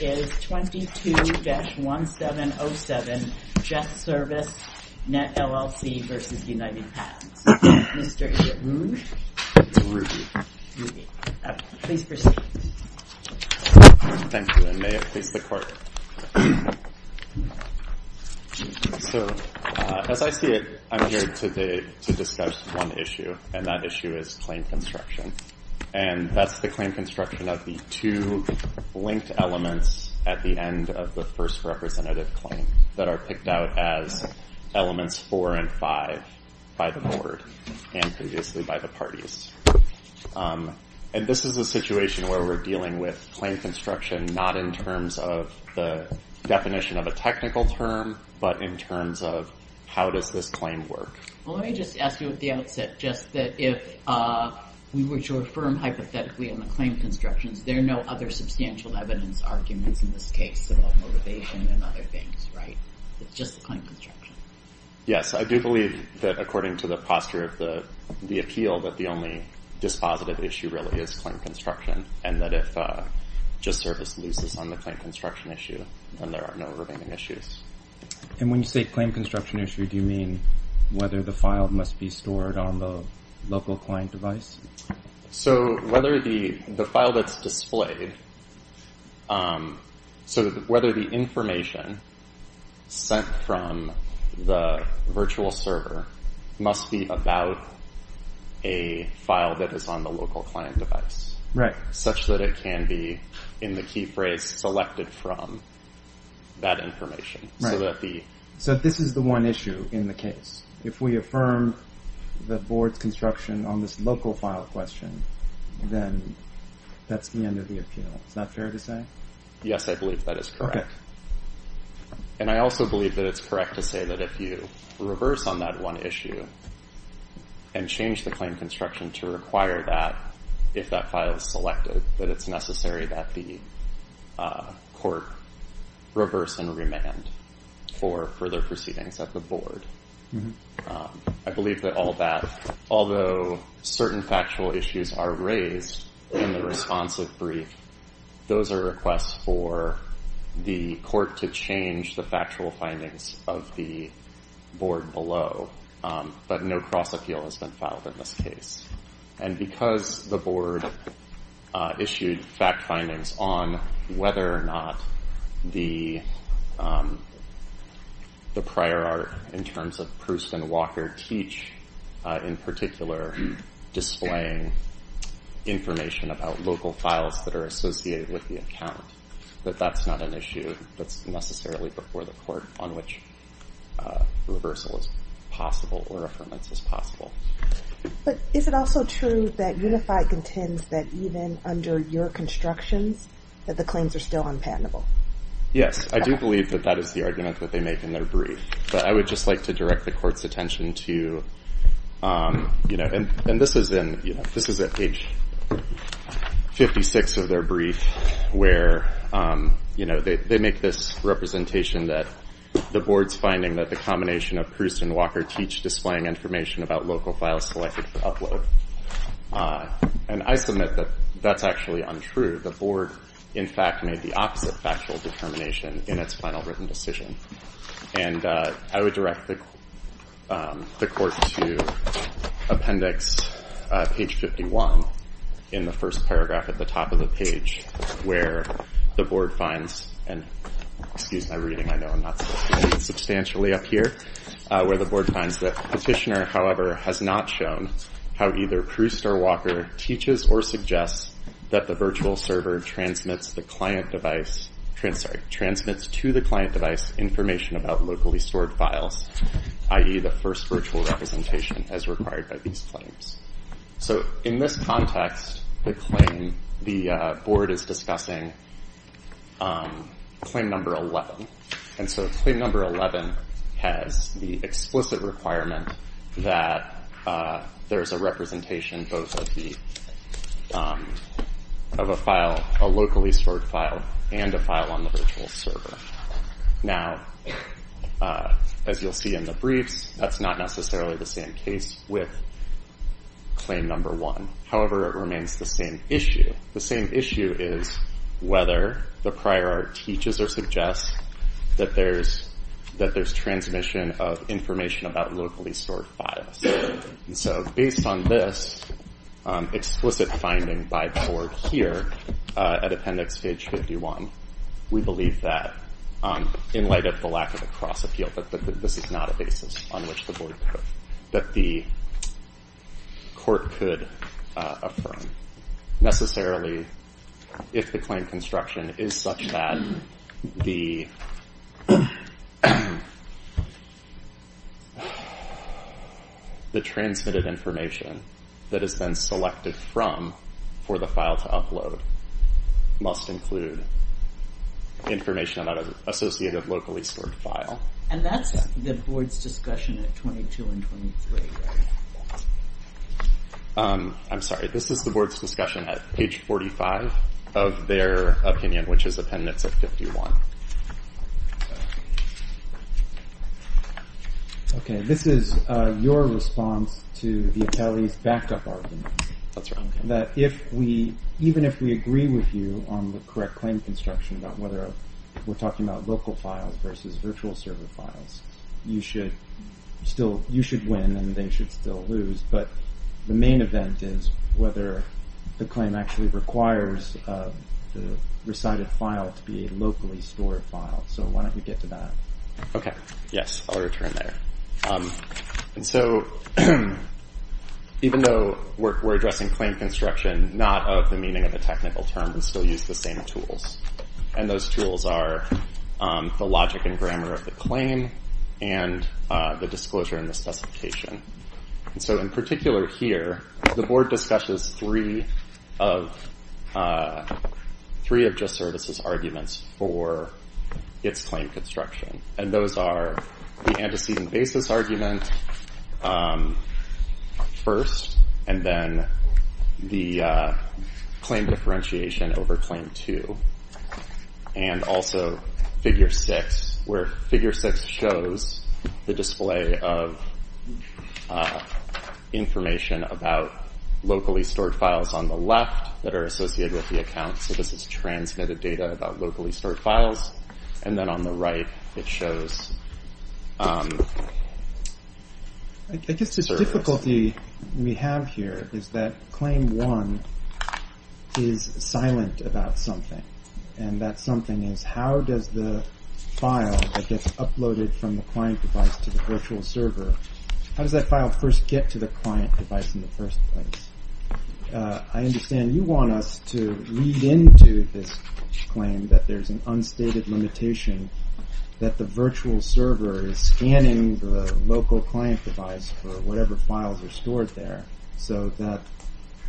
is 22-1707, JustService.net LLC v. United Patents. Mr. Eberroon. It's Ruby. Please proceed. Thank you, and may it please the Court. So, as I see it, I'm here to discuss one issue, and that issue is claim construction. And that's the claim construction of the two linked elements at the end of the first representative claim that are picked out as elements four and five by the Board and previously by the parties. And this is a situation where we're dealing with claim construction not in terms of the definition of a technical term, but in terms of how does this claim work. Well, let me just ask you at the outset just that if we were to affirm hypothetically on the claim constructions, there are no other substantial evidence arguments in this case about motivation and other things, right? It's just the claim construction. Yes, I do believe that according to the posture of the appeal, that the only dispositive issue really is claim construction, and that if JustService loses on the claim construction issue, then there are no remaining issues. And when you say claim construction issue, do you mean whether the file must be stored on the local client device? So, whether the file that's displayed, so whether the information sent from the virtual server must be about a file that is on the local client device, such that it can be, in the key phrase, selected from that information. So, this is the one issue in the case. If we affirm the board's construction on this local file question, then that's the end of the appeal. Is that fair to say? Yes, I believe that is correct. And I also believe that it's correct to say that if you reverse on that one issue and change the claim construction to require that, if that file is selected, that it's necessary that the court reverse and remand for further proceedings at the board. I believe that all that, although certain factual issues are raised in the responsive brief, those are requests for the court to change the factual findings of the board below. But no cross-appeal has been filed in this case. And because the board issued fact findings on whether or not the prior art, in terms of Proust and Walker teach, in particular, displaying information about local files that are associated with the account, that that's not an issue that's necessarily before the board as possible or affirmance as possible. But is it also true that UNIFI contends that even under your constructions, that the claims are still unpatentable? Yes, I do believe that that is the argument that they make in their brief. But I would just like to direct the court's attention to, and this is at page 56 of their brief, where they make this representation that the board's finding that the combination of Proust and Walker teach displaying information about local files selected for upload. And I submit that that's actually untrue. The board, in fact, made the opposite factual determination in its final written decision. And I would direct the court to appendix page 51 in the first paragraph at the top of the where the board finds that petitioner, however, has not shown how either Proust or Walker teaches or suggests that the virtual server transmits to the client device information about locally stored files, i.e., the first virtual representation as required by these claims. So in this context, the board is discussing claim number 11. And so claim number 11 has the explicit requirement that there is a representation both of a file, a locally stored file, and a file on the virtual server. Now, as you'll see in the briefs, that's not necessarily the same case with claim number one. However, it remains the same issue. The same issue is whether the prior art teaches or suggests that there's transmission of information about locally stored files. And so based on this explicit finding by the board here at appendix page 51, we believe that, in light of the lack of a cross-appeal, that this is not a basis on which the board that the court could affirm. Necessarily, if the claim construction is such that the transmitted information that has been selected from for the file to upload must include information about an associated locally stored file. And that's the board's discussion at 22 and 23, right? I'm sorry. This is the board's discussion at page 45 of their opinion, which is appendix of 51. OK. This is your response to the attorney's backed-up argument. That's right. That even if we agree with you on the correct claim construction about whether we're talking about local files versus virtual server files, you should win and they should still lose. But the main event is whether the claim actually requires the recited file to be a locally stored file. So why don't we get to that? OK. Yes. I'll return there. And so even though we're addressing claim construction not of the meaning of a technical term, we still use the same tools. And those tools are the logic and grammar of the claim and the disclosure and the specification. And so in particular here, the board discusses three of just services arguments for its claim construction. And those are the antecedent basis argument first, and then the claim differentiation over claim two. And also figure six, where figure six shows the display of information about locally stored files on the left that are associated with the account. So this is transmitted data about locally stored files. And then on the right, it shows service. The difficulty we have here is that claim one is silent about something. And that something is how does the file that gets uploaded from the client device to the virtual server, how does that file first get to the client device in the first place? I understand you want us to read into this claim that there's an unstated limitation that the virtual server is scanning the local client device for whatever files are stored there. So that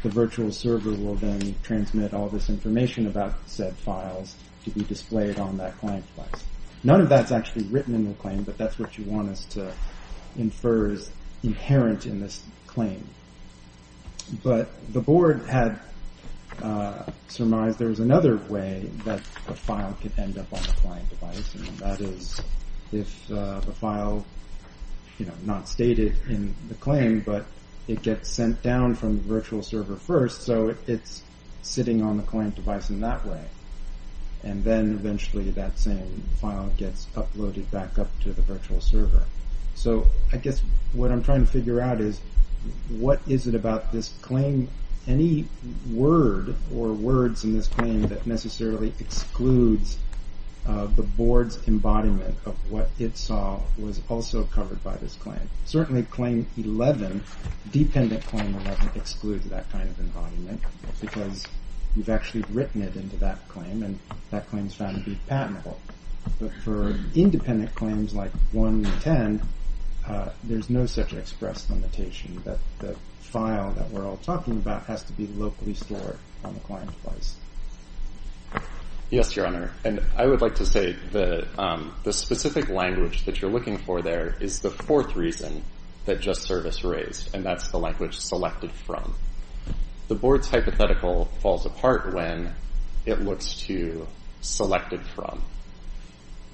the virtual server will then transmit all this information about said files to be displayed on that client device. None of that's actually written in the claim, but that's what you want us to infer is inherent in this claim. But the board had surmised there was another way that the file could end up on the client device. And that is if the file, not stated in the claim, but it gets sent down from the virtual server first. So it's sitting on the client device in that way. And then eventually that same file gets uploaded back up to the virtual server. So I guess what I'm trying to figure out is what is it about this claim, any word or words in this claim that necessarily excludes the board's embodiment of what it saw was also covered by this claim. Certainly claim 11, dependent claim 11 excludes that kind of embodiment because you've actually written it into that claim and that claim is found to be patentable. But for independent claims like 110, there's no such express limitation that the file that we're all talking about has to be locally stored on the client device. Yes, Your Honor. And I would like to say that the specific language that you're looking for there is the fourth reason that JustService raised, and that's the language selected from. The board's hypothetical falls apart when it looks to selected from.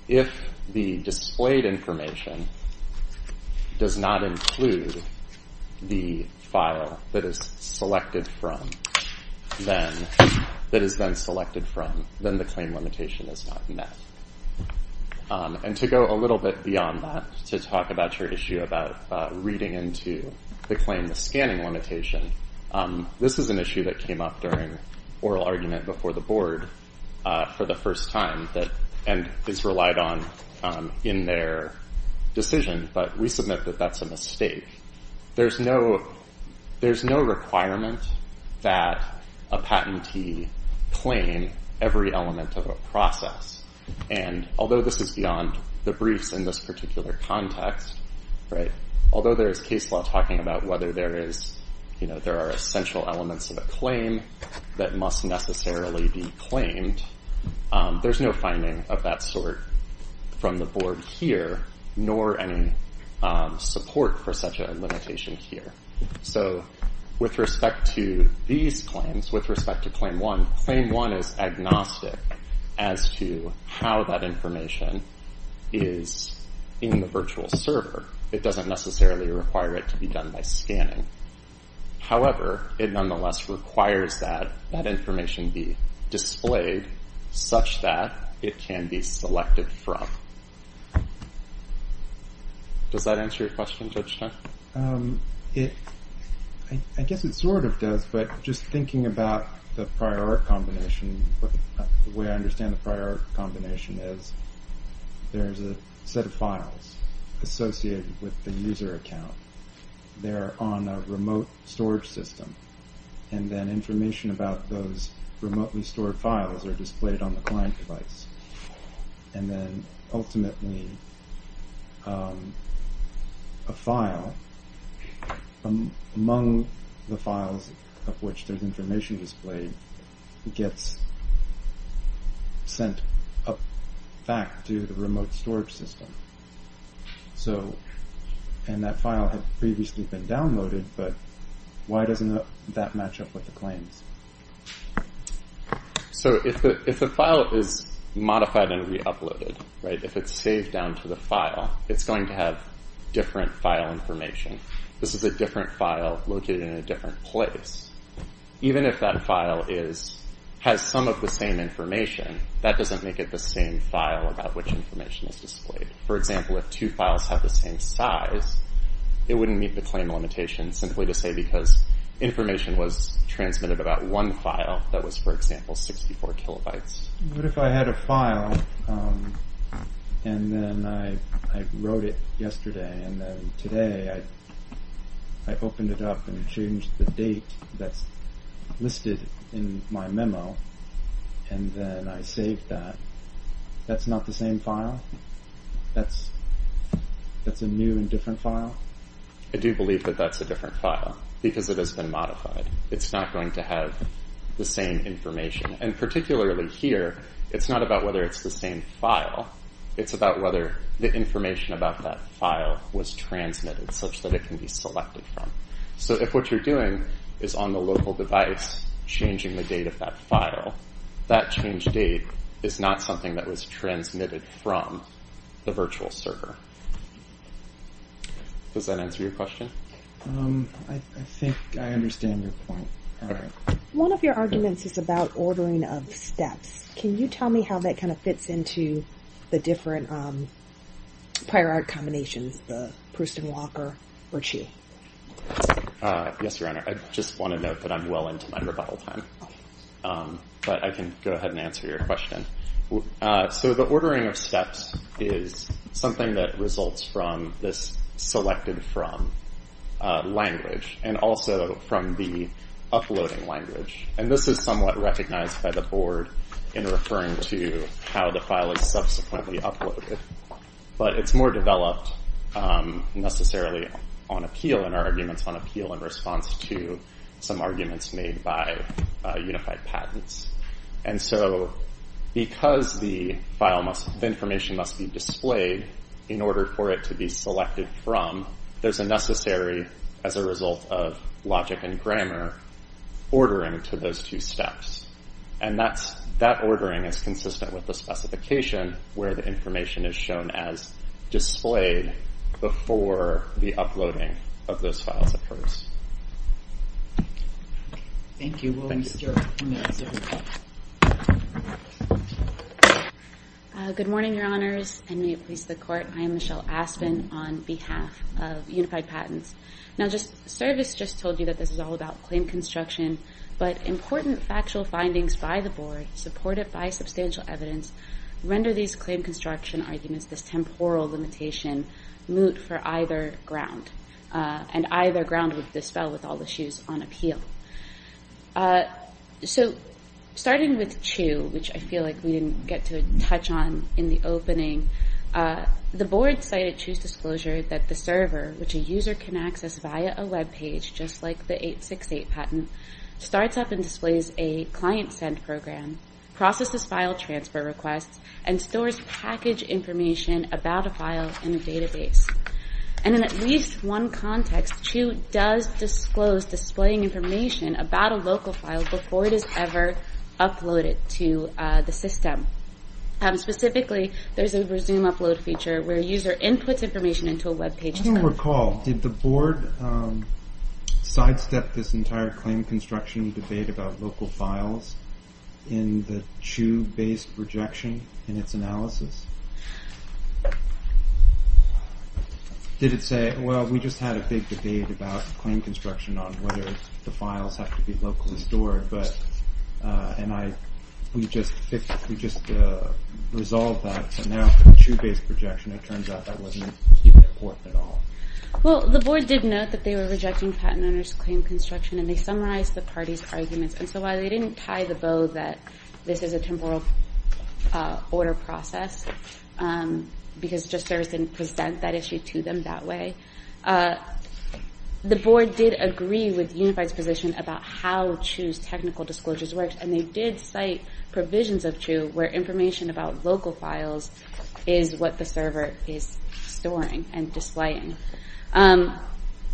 If the displayed information does not include the file that is selected from, then the claim limitation is not met. And to go a little bit beyond that, to talk about your issue about reading into the claim and the scanning limitation, this is an issue that came up during oral argument before the board for the first time and is relied on in their decision, but we submit that that's a mistake. There's no requirement that a patentee claim every element of a process. And although this is beyond the briefs in this particular context, although there is case law talking about whether there are essential elements of a claim that must necessarily be claimed, there's no finding of that sort from the board here, nor any support for such a limitation here. So with respect to these claims, with respect to Claim 1, Claim 1 is agnostic as to how that information is in the virtual server. It doesn't necessarily require it to be done by scanning. However, it nonetheless requires that that information be displayed such that it can be selected from. Does that answer your question, Judge Stein? I guess it sort of does, but just thinking about the prior art combination, the way I account, they're on a remote storage system, and then information about those remotely stored files are displayed on the client device. And then ultimately, a file among the files of which there's information displayed gets sent back to the remote storage system. And that file had previously been downloaded, but why doesn't that match up with the claims? So if the file is modified and re-uploaded, if it's saved down to the file, it's going to have different file information. This is a different file located in a different place. Even if that file has some of the same information, that doesn't make it the same file about which information is displayed. For example, if two files have the same size, it wouldn't meet the claim limitation, simply to say because information was transmitted about one file that was, for example, 64 kilobytes. What if I had a file, and then I wrote it yesterday, and then today I opened it up and changed the date that's listed in my memo, and then I saved that. That's not the same file? That's a new and different file? I do believe that that's a different file, because it has been modified. It's not going to have the same information. And particularly here, it's not about whether it's the same file, it's about whether the information about that file was transmitted such that it can be selected from. If what you're doing is on the local device, changing the date of that file, that change date is not something that was transmitted from the virtual server. Does that answer your question? I think I understand your point. One of your arguments is about ordering of steps. Can you tell me how that kind of fits into the different prior art combinations, the Proust and Walker or Chi? Yes, Your Honor. I just want to note that I'm well into my rebuttal time. But I can go ahead and answer your question. So the ordering of steps is something that results from this selected from language, and also from the uploading language. And this is somewhat recognized by the Board in referring to how the file is subsequently uploaded. But it's more developed necessarily on appeal in our arguments, on appeal in response to some arguments made by Unified Patents. And so because the information must be displayed in order for it to be selected from, there's a necessary, as a result of logic and grammar, ordering to those two steps. And that ordering is consistent with the specification where the information is shown as displayed before the uploading of those files occurs. Thank you. We'll move to the next question. Good morning, Your Honors, and may it please the Court. I am Michelle Aspin on behalf of Unified Patents. Now, Service just told you that this is all about claim construction. But important factual findings by the Board, supported by substantial evidence, render these claim construction arguments, this temporal limitation, moot for either ground. And either ground would dispel with all issues on appeal. So, starting with CHU, which I feel like we didn't get to touch on in the opening, the Board cited CHU's disclosure that the server, which a user can access via a webpage, just like the 868 patent, starts up and displays a client send program, processes file transfer requests, and stores package information about a file in a database. And in at least one context, CHU does disclose displaying information about a local file before it is ever uploaded to the system. Specifically, there's a resume upload feature where a user inputs information into a webpage. I don't recall, did the Board sidestep this entire claim construction debate about local files in the CHU-based rejection in its analysis? Did it say, well, we just had a big debate about claim construction on whether the files have to be locally stored, but, and I, we just, we just resolved that, but now for the CHU-based rejection, it turns out that wasn't even important at all. Well, the Board did note that they were rejecting patent owners' claim construction, and they summarized the parties' arguments. And so while they didn't tie the bow that this is a temporal order process, because just service didn't present that issue to them that way, the Board did agree with Unified's position about how CHU's technical disclosures worked, and they did cite provisions of CHU where information about local files is what the server is storing and displaying.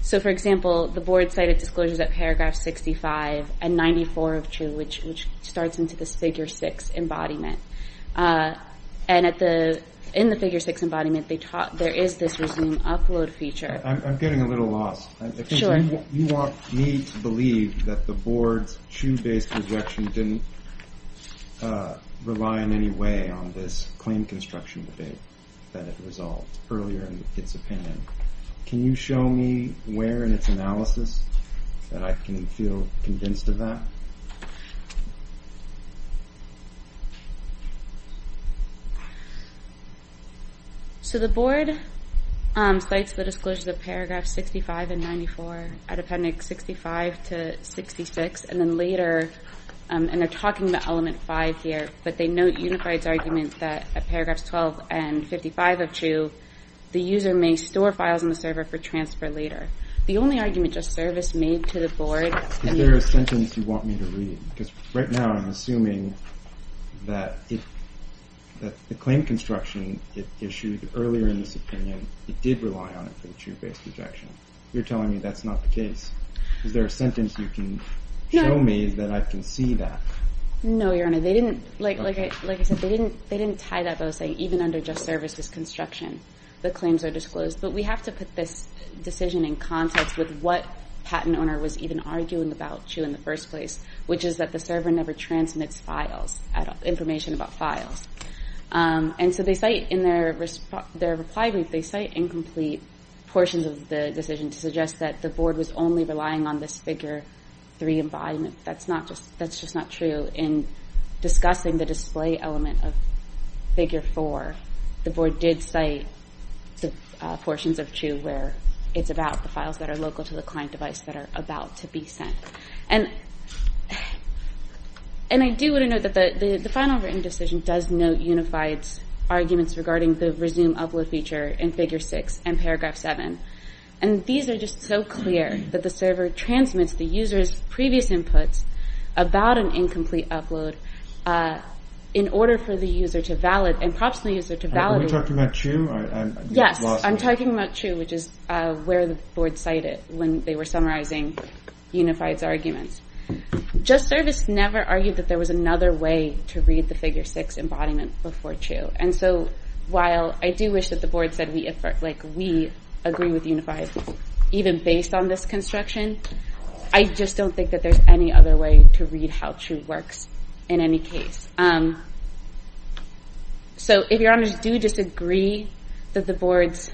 So, for example, the Board cited disclosures at paragraph 65 and 94 of CHU, which starts into this figure six embodiment. And at the, in the figure six embodiment, there is this resume upload feature. I'm getting a little lost. Sure. You want me to believe that the Board's CHU-based rejection didn't rely in any way on this claim construction debate that it resolved earlier in its opinion. Can you show me where in its analysis that I can feel convinced of that? So the Board cites the disclosures of paragraph 65 and 94 out of appendix 65 to 66, and then Unified's argument that at paragraphs 12 and 55 of CHU, the user may store files on the server for transfer later. The only argument just service made to the Board... Is there a sentence you want me to read? Because right now I'm assuming that the claim construction it issued earlier in its opinion, it did rely on it for the CHU-based rejection. You're telling me that's not the case. Is there a sentence you can show me that I can see that? No, Your Honor. They didn't, like I said, they didn't tie that by saying even under just services construction, the claims are disclosed. But we have to put this decision in context with what patent owner was even arguing about CHU in the first place, which is that the server never transmits files at all, information about files. And so they cite in their reply brief, they cite incomplete portions of the decision to suggest that the Board was only relying on this figure three embodiment. That's just not true in discussing the display element of figure four. The Board did cite the portions of CHU where it's about the files that are local to the client device that are about to be sent. And I do want to note that the final written decision does note unified arguments regarding the resume upload feature in figure six and paragraph seven. And these are just so clear that the server transmits the user's previous inputs about an incomplete upload in order for the user to valid, and perhaps the user to validate. Are you talking about CHU? Yes, I'm talking about CHU, which is where the Board cited when they were summarizing unified arguments. Just service never argued that there was another way to read the figure six embodiment before CHU. And so while I do wish that the Board said we agree with unified, even based on this construction, I just don't think that there's any other way to read how CHU works in any case. So if your honors do disagree that the Board's,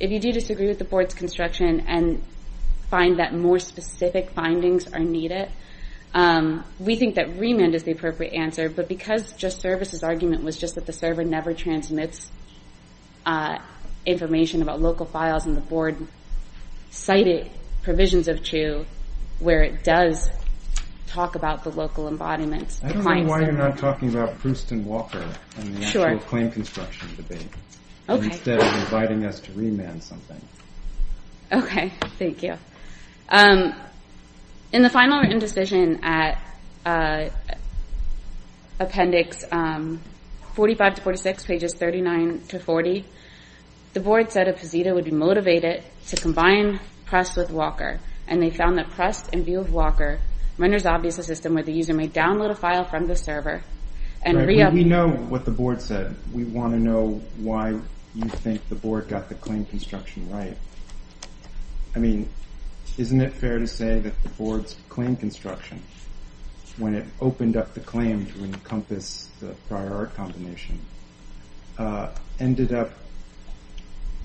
if you do disagree with the Board's construction and find that more specific findings are needed, we think that remand is the one that never transmits information about local files and the Board cited provisions of CHU where it does talk about the local embodiment. I don't know why you're not talking about Proust and Walker in the actual claim construction debate, instead of inviting us to remand something. Okay, thank you. In the final written decision at appendix 45 to 46, pages 39 to 40, the Board said that Posita would be motivated to combine Proust with Walker, and they found that Proust and Walker renders obvious a system where the user may download a file from the server and re-upload. We know what the Board said. We want to know why you think the Board got the claim construction right. I mean, isn't it fair to say that the Board's claim construction, when it opened up the claim to encompass the prior art combination, ended up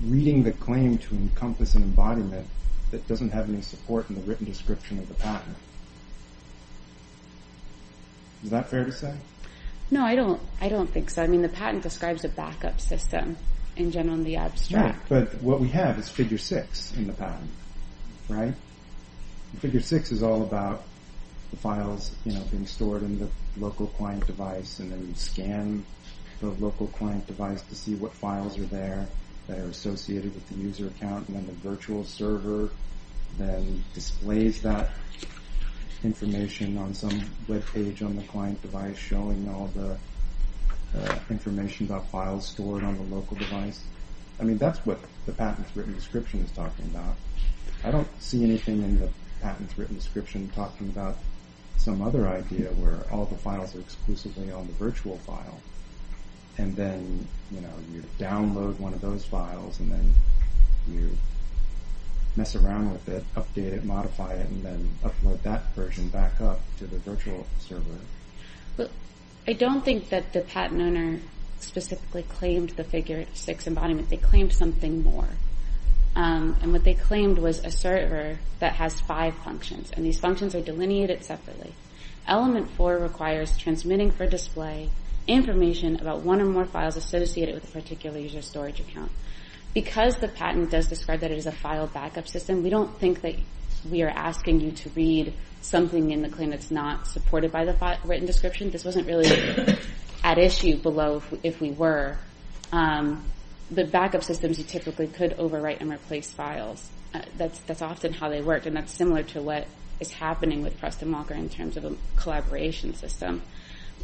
reading the claim to encompass an embodiment that doesn't have any support in the written description of the patent? Is that fair to say? No, I don't think so. I mean, the patent describes a backup system, in general, in the abstract. No, but what we have is figure six in the patent, right? Figure six is all about the files being stored in the local client device, and then we scan the local client device to see what files are there that are associated with the user account, and then the virtual server then displays that information on some webpage on the client device, showing all the information about files stored on the local device. I mean, that's what the patent's written description is talking about. I don't see anything in the patent's written description talking about some other idea where all the files are exclusively on the virtual file, and then you download one of those files, and then you mess around with it, update it, modify it, and then upload that version back up to the virtual server. Well, I don't think that the patent owner specifically claimed the figure six embodiment. They claimed something more, and what they claimed was a server that has five functions, and these functions are delineated separately. Element four requires transmitting for display information about one or more files associated with a particular user storage account. Because the patent does describe that it is a file backup system, we don't think that we are asking you to read something in the claim that's not supported by the written description. This wasn't really at issue below if we were. But backup systems, you typically could overwrite and replace files. That's often how they work, and that's similar to what is happening with Preston Walker in terms of a collaboration system.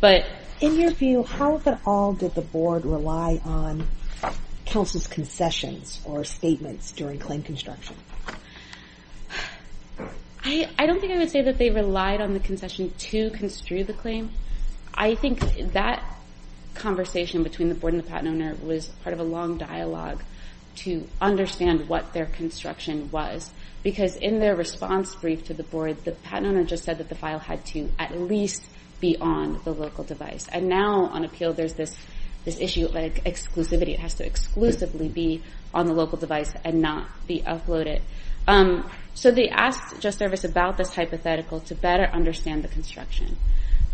But in your view, how at all did the board rely on counsel's concessions or statements during claim construction? I don't think I would say that they relied on the concession to construe the claim. I think that conversation between the board and the patent owner was part of a long dialogue to understand what their construction was. Because in their response brief to the board, the patent owner just said that the file had to at least be on the local device. And now on appeal, there's this issue of exclusivity. It has to exclusively be on the local device and not be uploaded. So they asked JustService about this hypothetical to better understand the construction.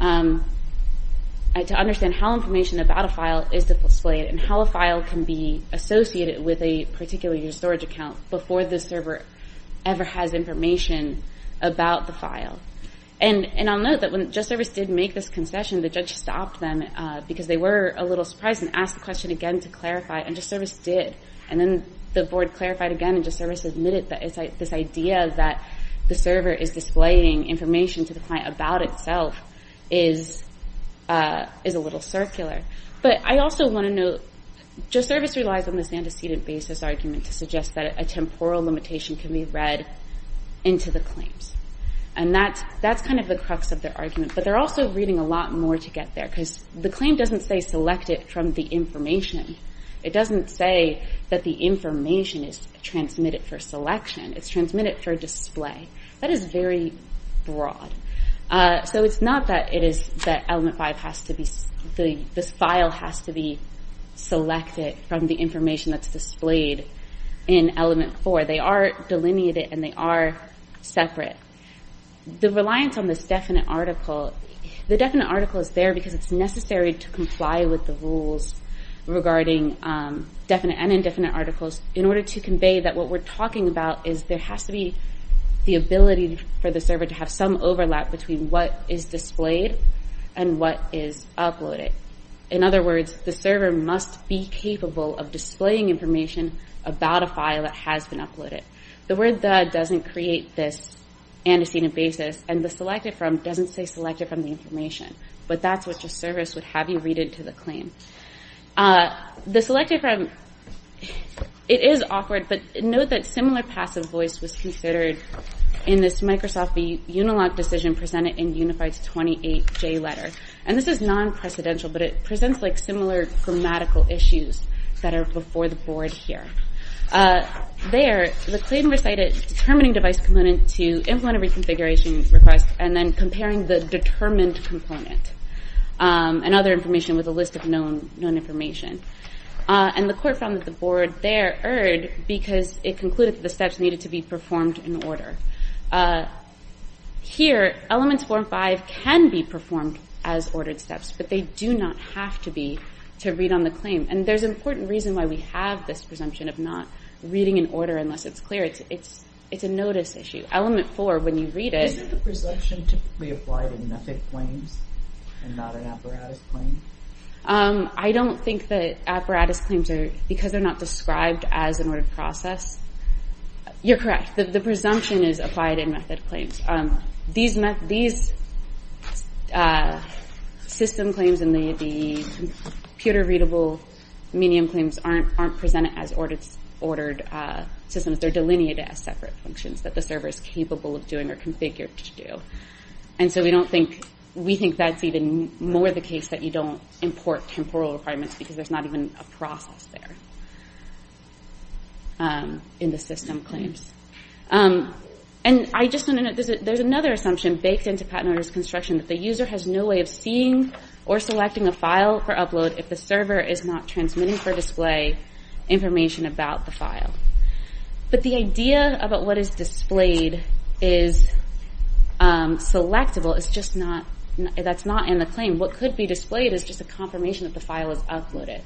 To understand how information about a file is displayed and how a file can be associated with a particular storage account before the server ever has information about the file. And I'll note that when JustService did make this concession, the judge stopped them because they were a little surprised and asked the question again to clarify. And JustService did. And then the board clarified again and JustService admitted that this idea that the server is displaying information to the client about itself is a little circular. But I also want to note, JustService relies on this antecedent basis argument to suggest that a temporal limitation can be read into the claims. And that's kind of the crux of their argument. But they're also reading a lot more to get there. Because the claim doesn't say select it from the information. It doesn't say that the information is transmitted for selection. It's transmitted for display. That is very broad. So it's not that this file has to be selected from the information that's displayed in element 4. They are delineated and they are separate. The reliance on this definite article, the definite article is there because it's necessary to comply with the rules regarding definite and indefinite articles in order to convey that what we're talking about is there has to be the ability for the server to have some overlap between what is displayed and what is uploaded. In other words, the server must be capable of displaying information about a file that has been uploaded. The word the doesn't create this antecedent basis. And the selected from doesn't say select it from the information. But that's what your service would have you read into the claim. The selected from, it is awkward, but note that similar passive voice was considered in this Microsoft Unilog decision presented in Unified's 28J letter. And this is non-precedential, but it presents like similar grammatical issues that are before the board here. There, the claim recited determining device component to implement a reconfiguration request and then comparing the determined component and other information with a list of known information. And the court found that the board there erred because it concluded that the steps needed to be performed in order. Here, elements 4 and 5 can be performed as ordered steps, but they do not have to be to read on the claim. And there's an important reason why we have this presumption of not reading in order unless it's clear. It's a notice issue. Element 4, when you read it... Isn't the presumption typically applied in method claims and not an apparatus claim? I don't think that apparatus claims are, because they're not described as an ordered process. You're correct. The presumption is applied in method claims. These system claims and the computer-readable medium claims aren't presented as ordered systems. They're delineated as separate functions that the server is capable of doing or configured to do. And so we think that's even more the case that you don't import temporal requirements because there's not even a process there in the system claims. And there's another assumption baked into patent notice construction, that the user has no way of seeing or selecting a file for upload if the server is not transmitting for display information about the file. But the idea about what is displayed is selectable. That's not in the claim. What could be displayed is just a confirmation that the file is uploaded.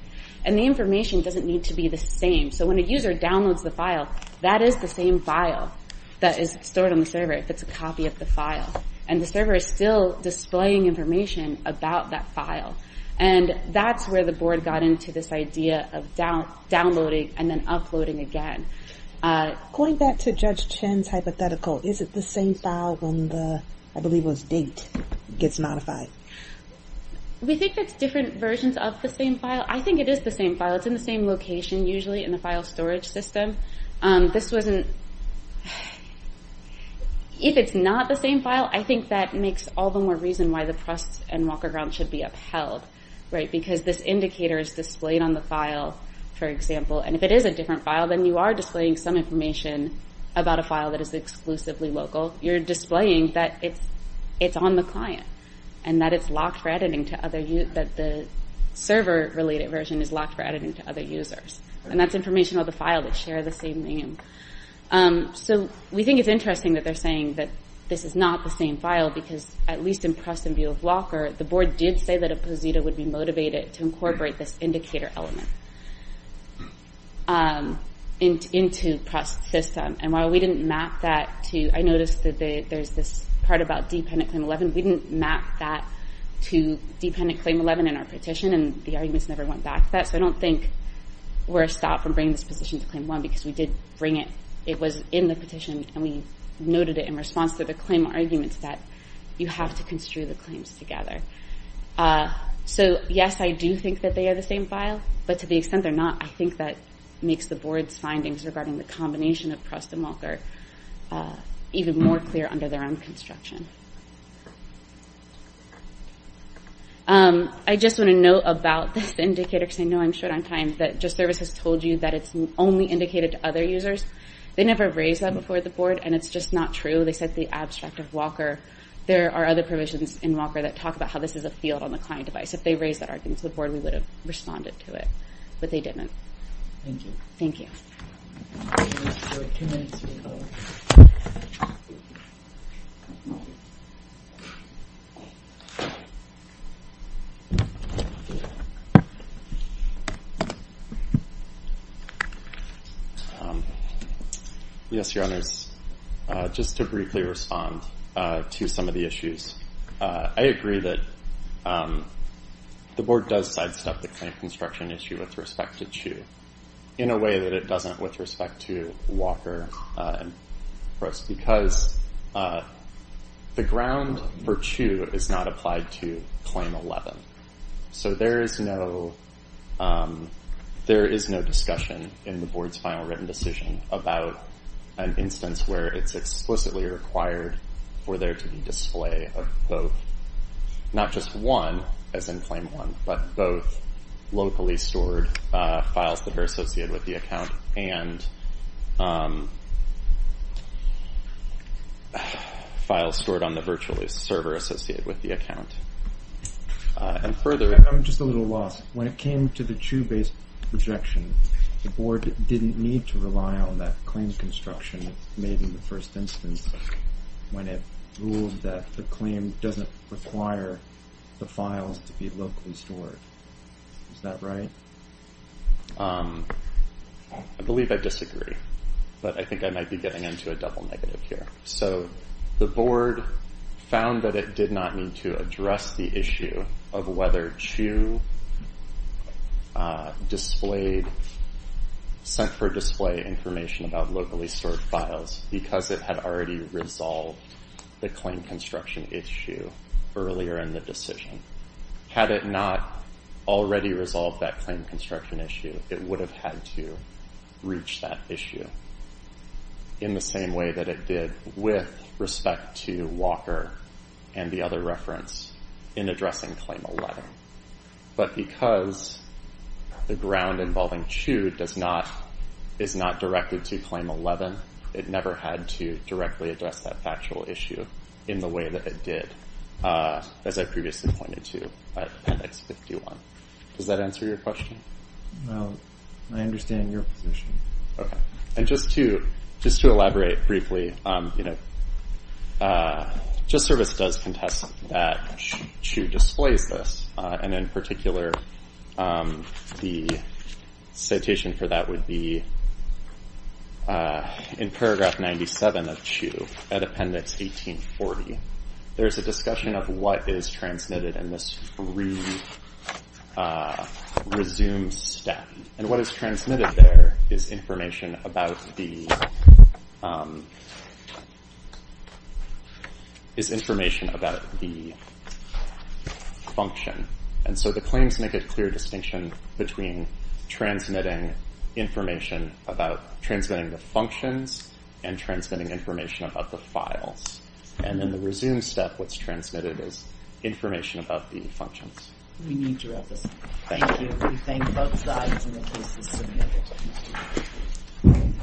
And the information doesn't need to be the same. So when a user downloads the file, that is the same file that is stored on the server, if it's a copy of the file. And the server is still displaying information about that file. And that's where the board got into this idea of downloading and then uploading again. Going back to Judge Chen's hypothetical, is it the same file when the, I believe it was, date gets modified? We think it's different versions of the same file. I think it is the same file. It's in the same location, usually, in the file storage system. This wasn't... If it's not the same file, I think that makes all the more reason why the press and walker grounds should be upheld. Because this indicator is displayed on the file, for example, and if it is a different file, then you are displaying some information about a file that is exclusively local. You're displaying that it's on the client, and that it's locked for editing to other users, or that the server-related version is locked for editing to other users. And that's information about the file that share the same name. So we think it's interesting that they're saying that this is not the same file, because, at least in press and view of walker, the board did say that a posita would be motivated to incorporate this indicator element into press system. And while we didn't map that to... I noticed that there's this part about dependent claim 11. We didn't map that to dependent claim 11 in our petition, and the arguments never went back to that. So I don't think we're stopped from bringing this position to claim 1, because we did bring it. It was in the petition, and we noted it in response to the claim arguments that you have to construe the claims together. So, yes, I do think that they are the same file, but to the extent they're not, I think that makes the board's findings regarding the combination of press and walker even more clear under their own construction. I just want to note about this indicator, because I know I'm short on time, that JustService has told you that it's only indicated to other users. They never raised that before the board, and it's just not true. They said the abstract of walker. There are other provisions in walker that talk about how this is a field on the client device. If they raised that argument to the board, we would have responded to it. But they didn't. Thank you. We have two minutes to go. Yes, Your Honors. Just to briefly respond to some of the issues, I agree that the board does sidestep the claim construction issue with respect to CHU in a way that it doesn't with respect to walker and press, because the ground for CHU is not applied to Claim 11. So there is no discussion in the board's final written decision about an instance where it's explicitly required for there to be display of both, not just one, as in Claim 1, but both locally stored files that are associated with the account and files stored on the virtual server associated with the account. I'm just a little lost. When it came to the CHU-based rejection, the board didn't need to rely on that claim construction made in the first instance when it ruled that the claim doesn't require the files to be locally stored. Is that right? I believe I disagree. But I think I might be getting into a double negative here. So the board found that it did not need to address the issue of whether CHU sent for display information about locally stored files because it had already resolved the claim construction issue earlier in the decision. Had it not already resolved that claim construction issue, it would have had to reach that issue in the same way that it did with respect to walker and the other reference in addressing Claim 11. But because the ground involving CHU is not directed to Claim 11, it never had to directly address that factual issue in the way that it did, as I previously pointed to at Appendix 51. Does that answer your question? No. I understand your position. Just to elaborate briefly, JustService does contest that CHU displays this, and in particular, the citation for that would be in Paragraph 97 of CHU, at Appendix 1840. There's a discussion of what is transmitted in this re-resumed stat. And what is transmitted there is information about the function. And so the claims make a clear distinction between transmitting information about transmitting the functions and transmitting information about the files. And in the re-resumed stat, what's transmitted is information about the functions. We need to wrap this up. Thank you. We thank both sides, and this is submitted.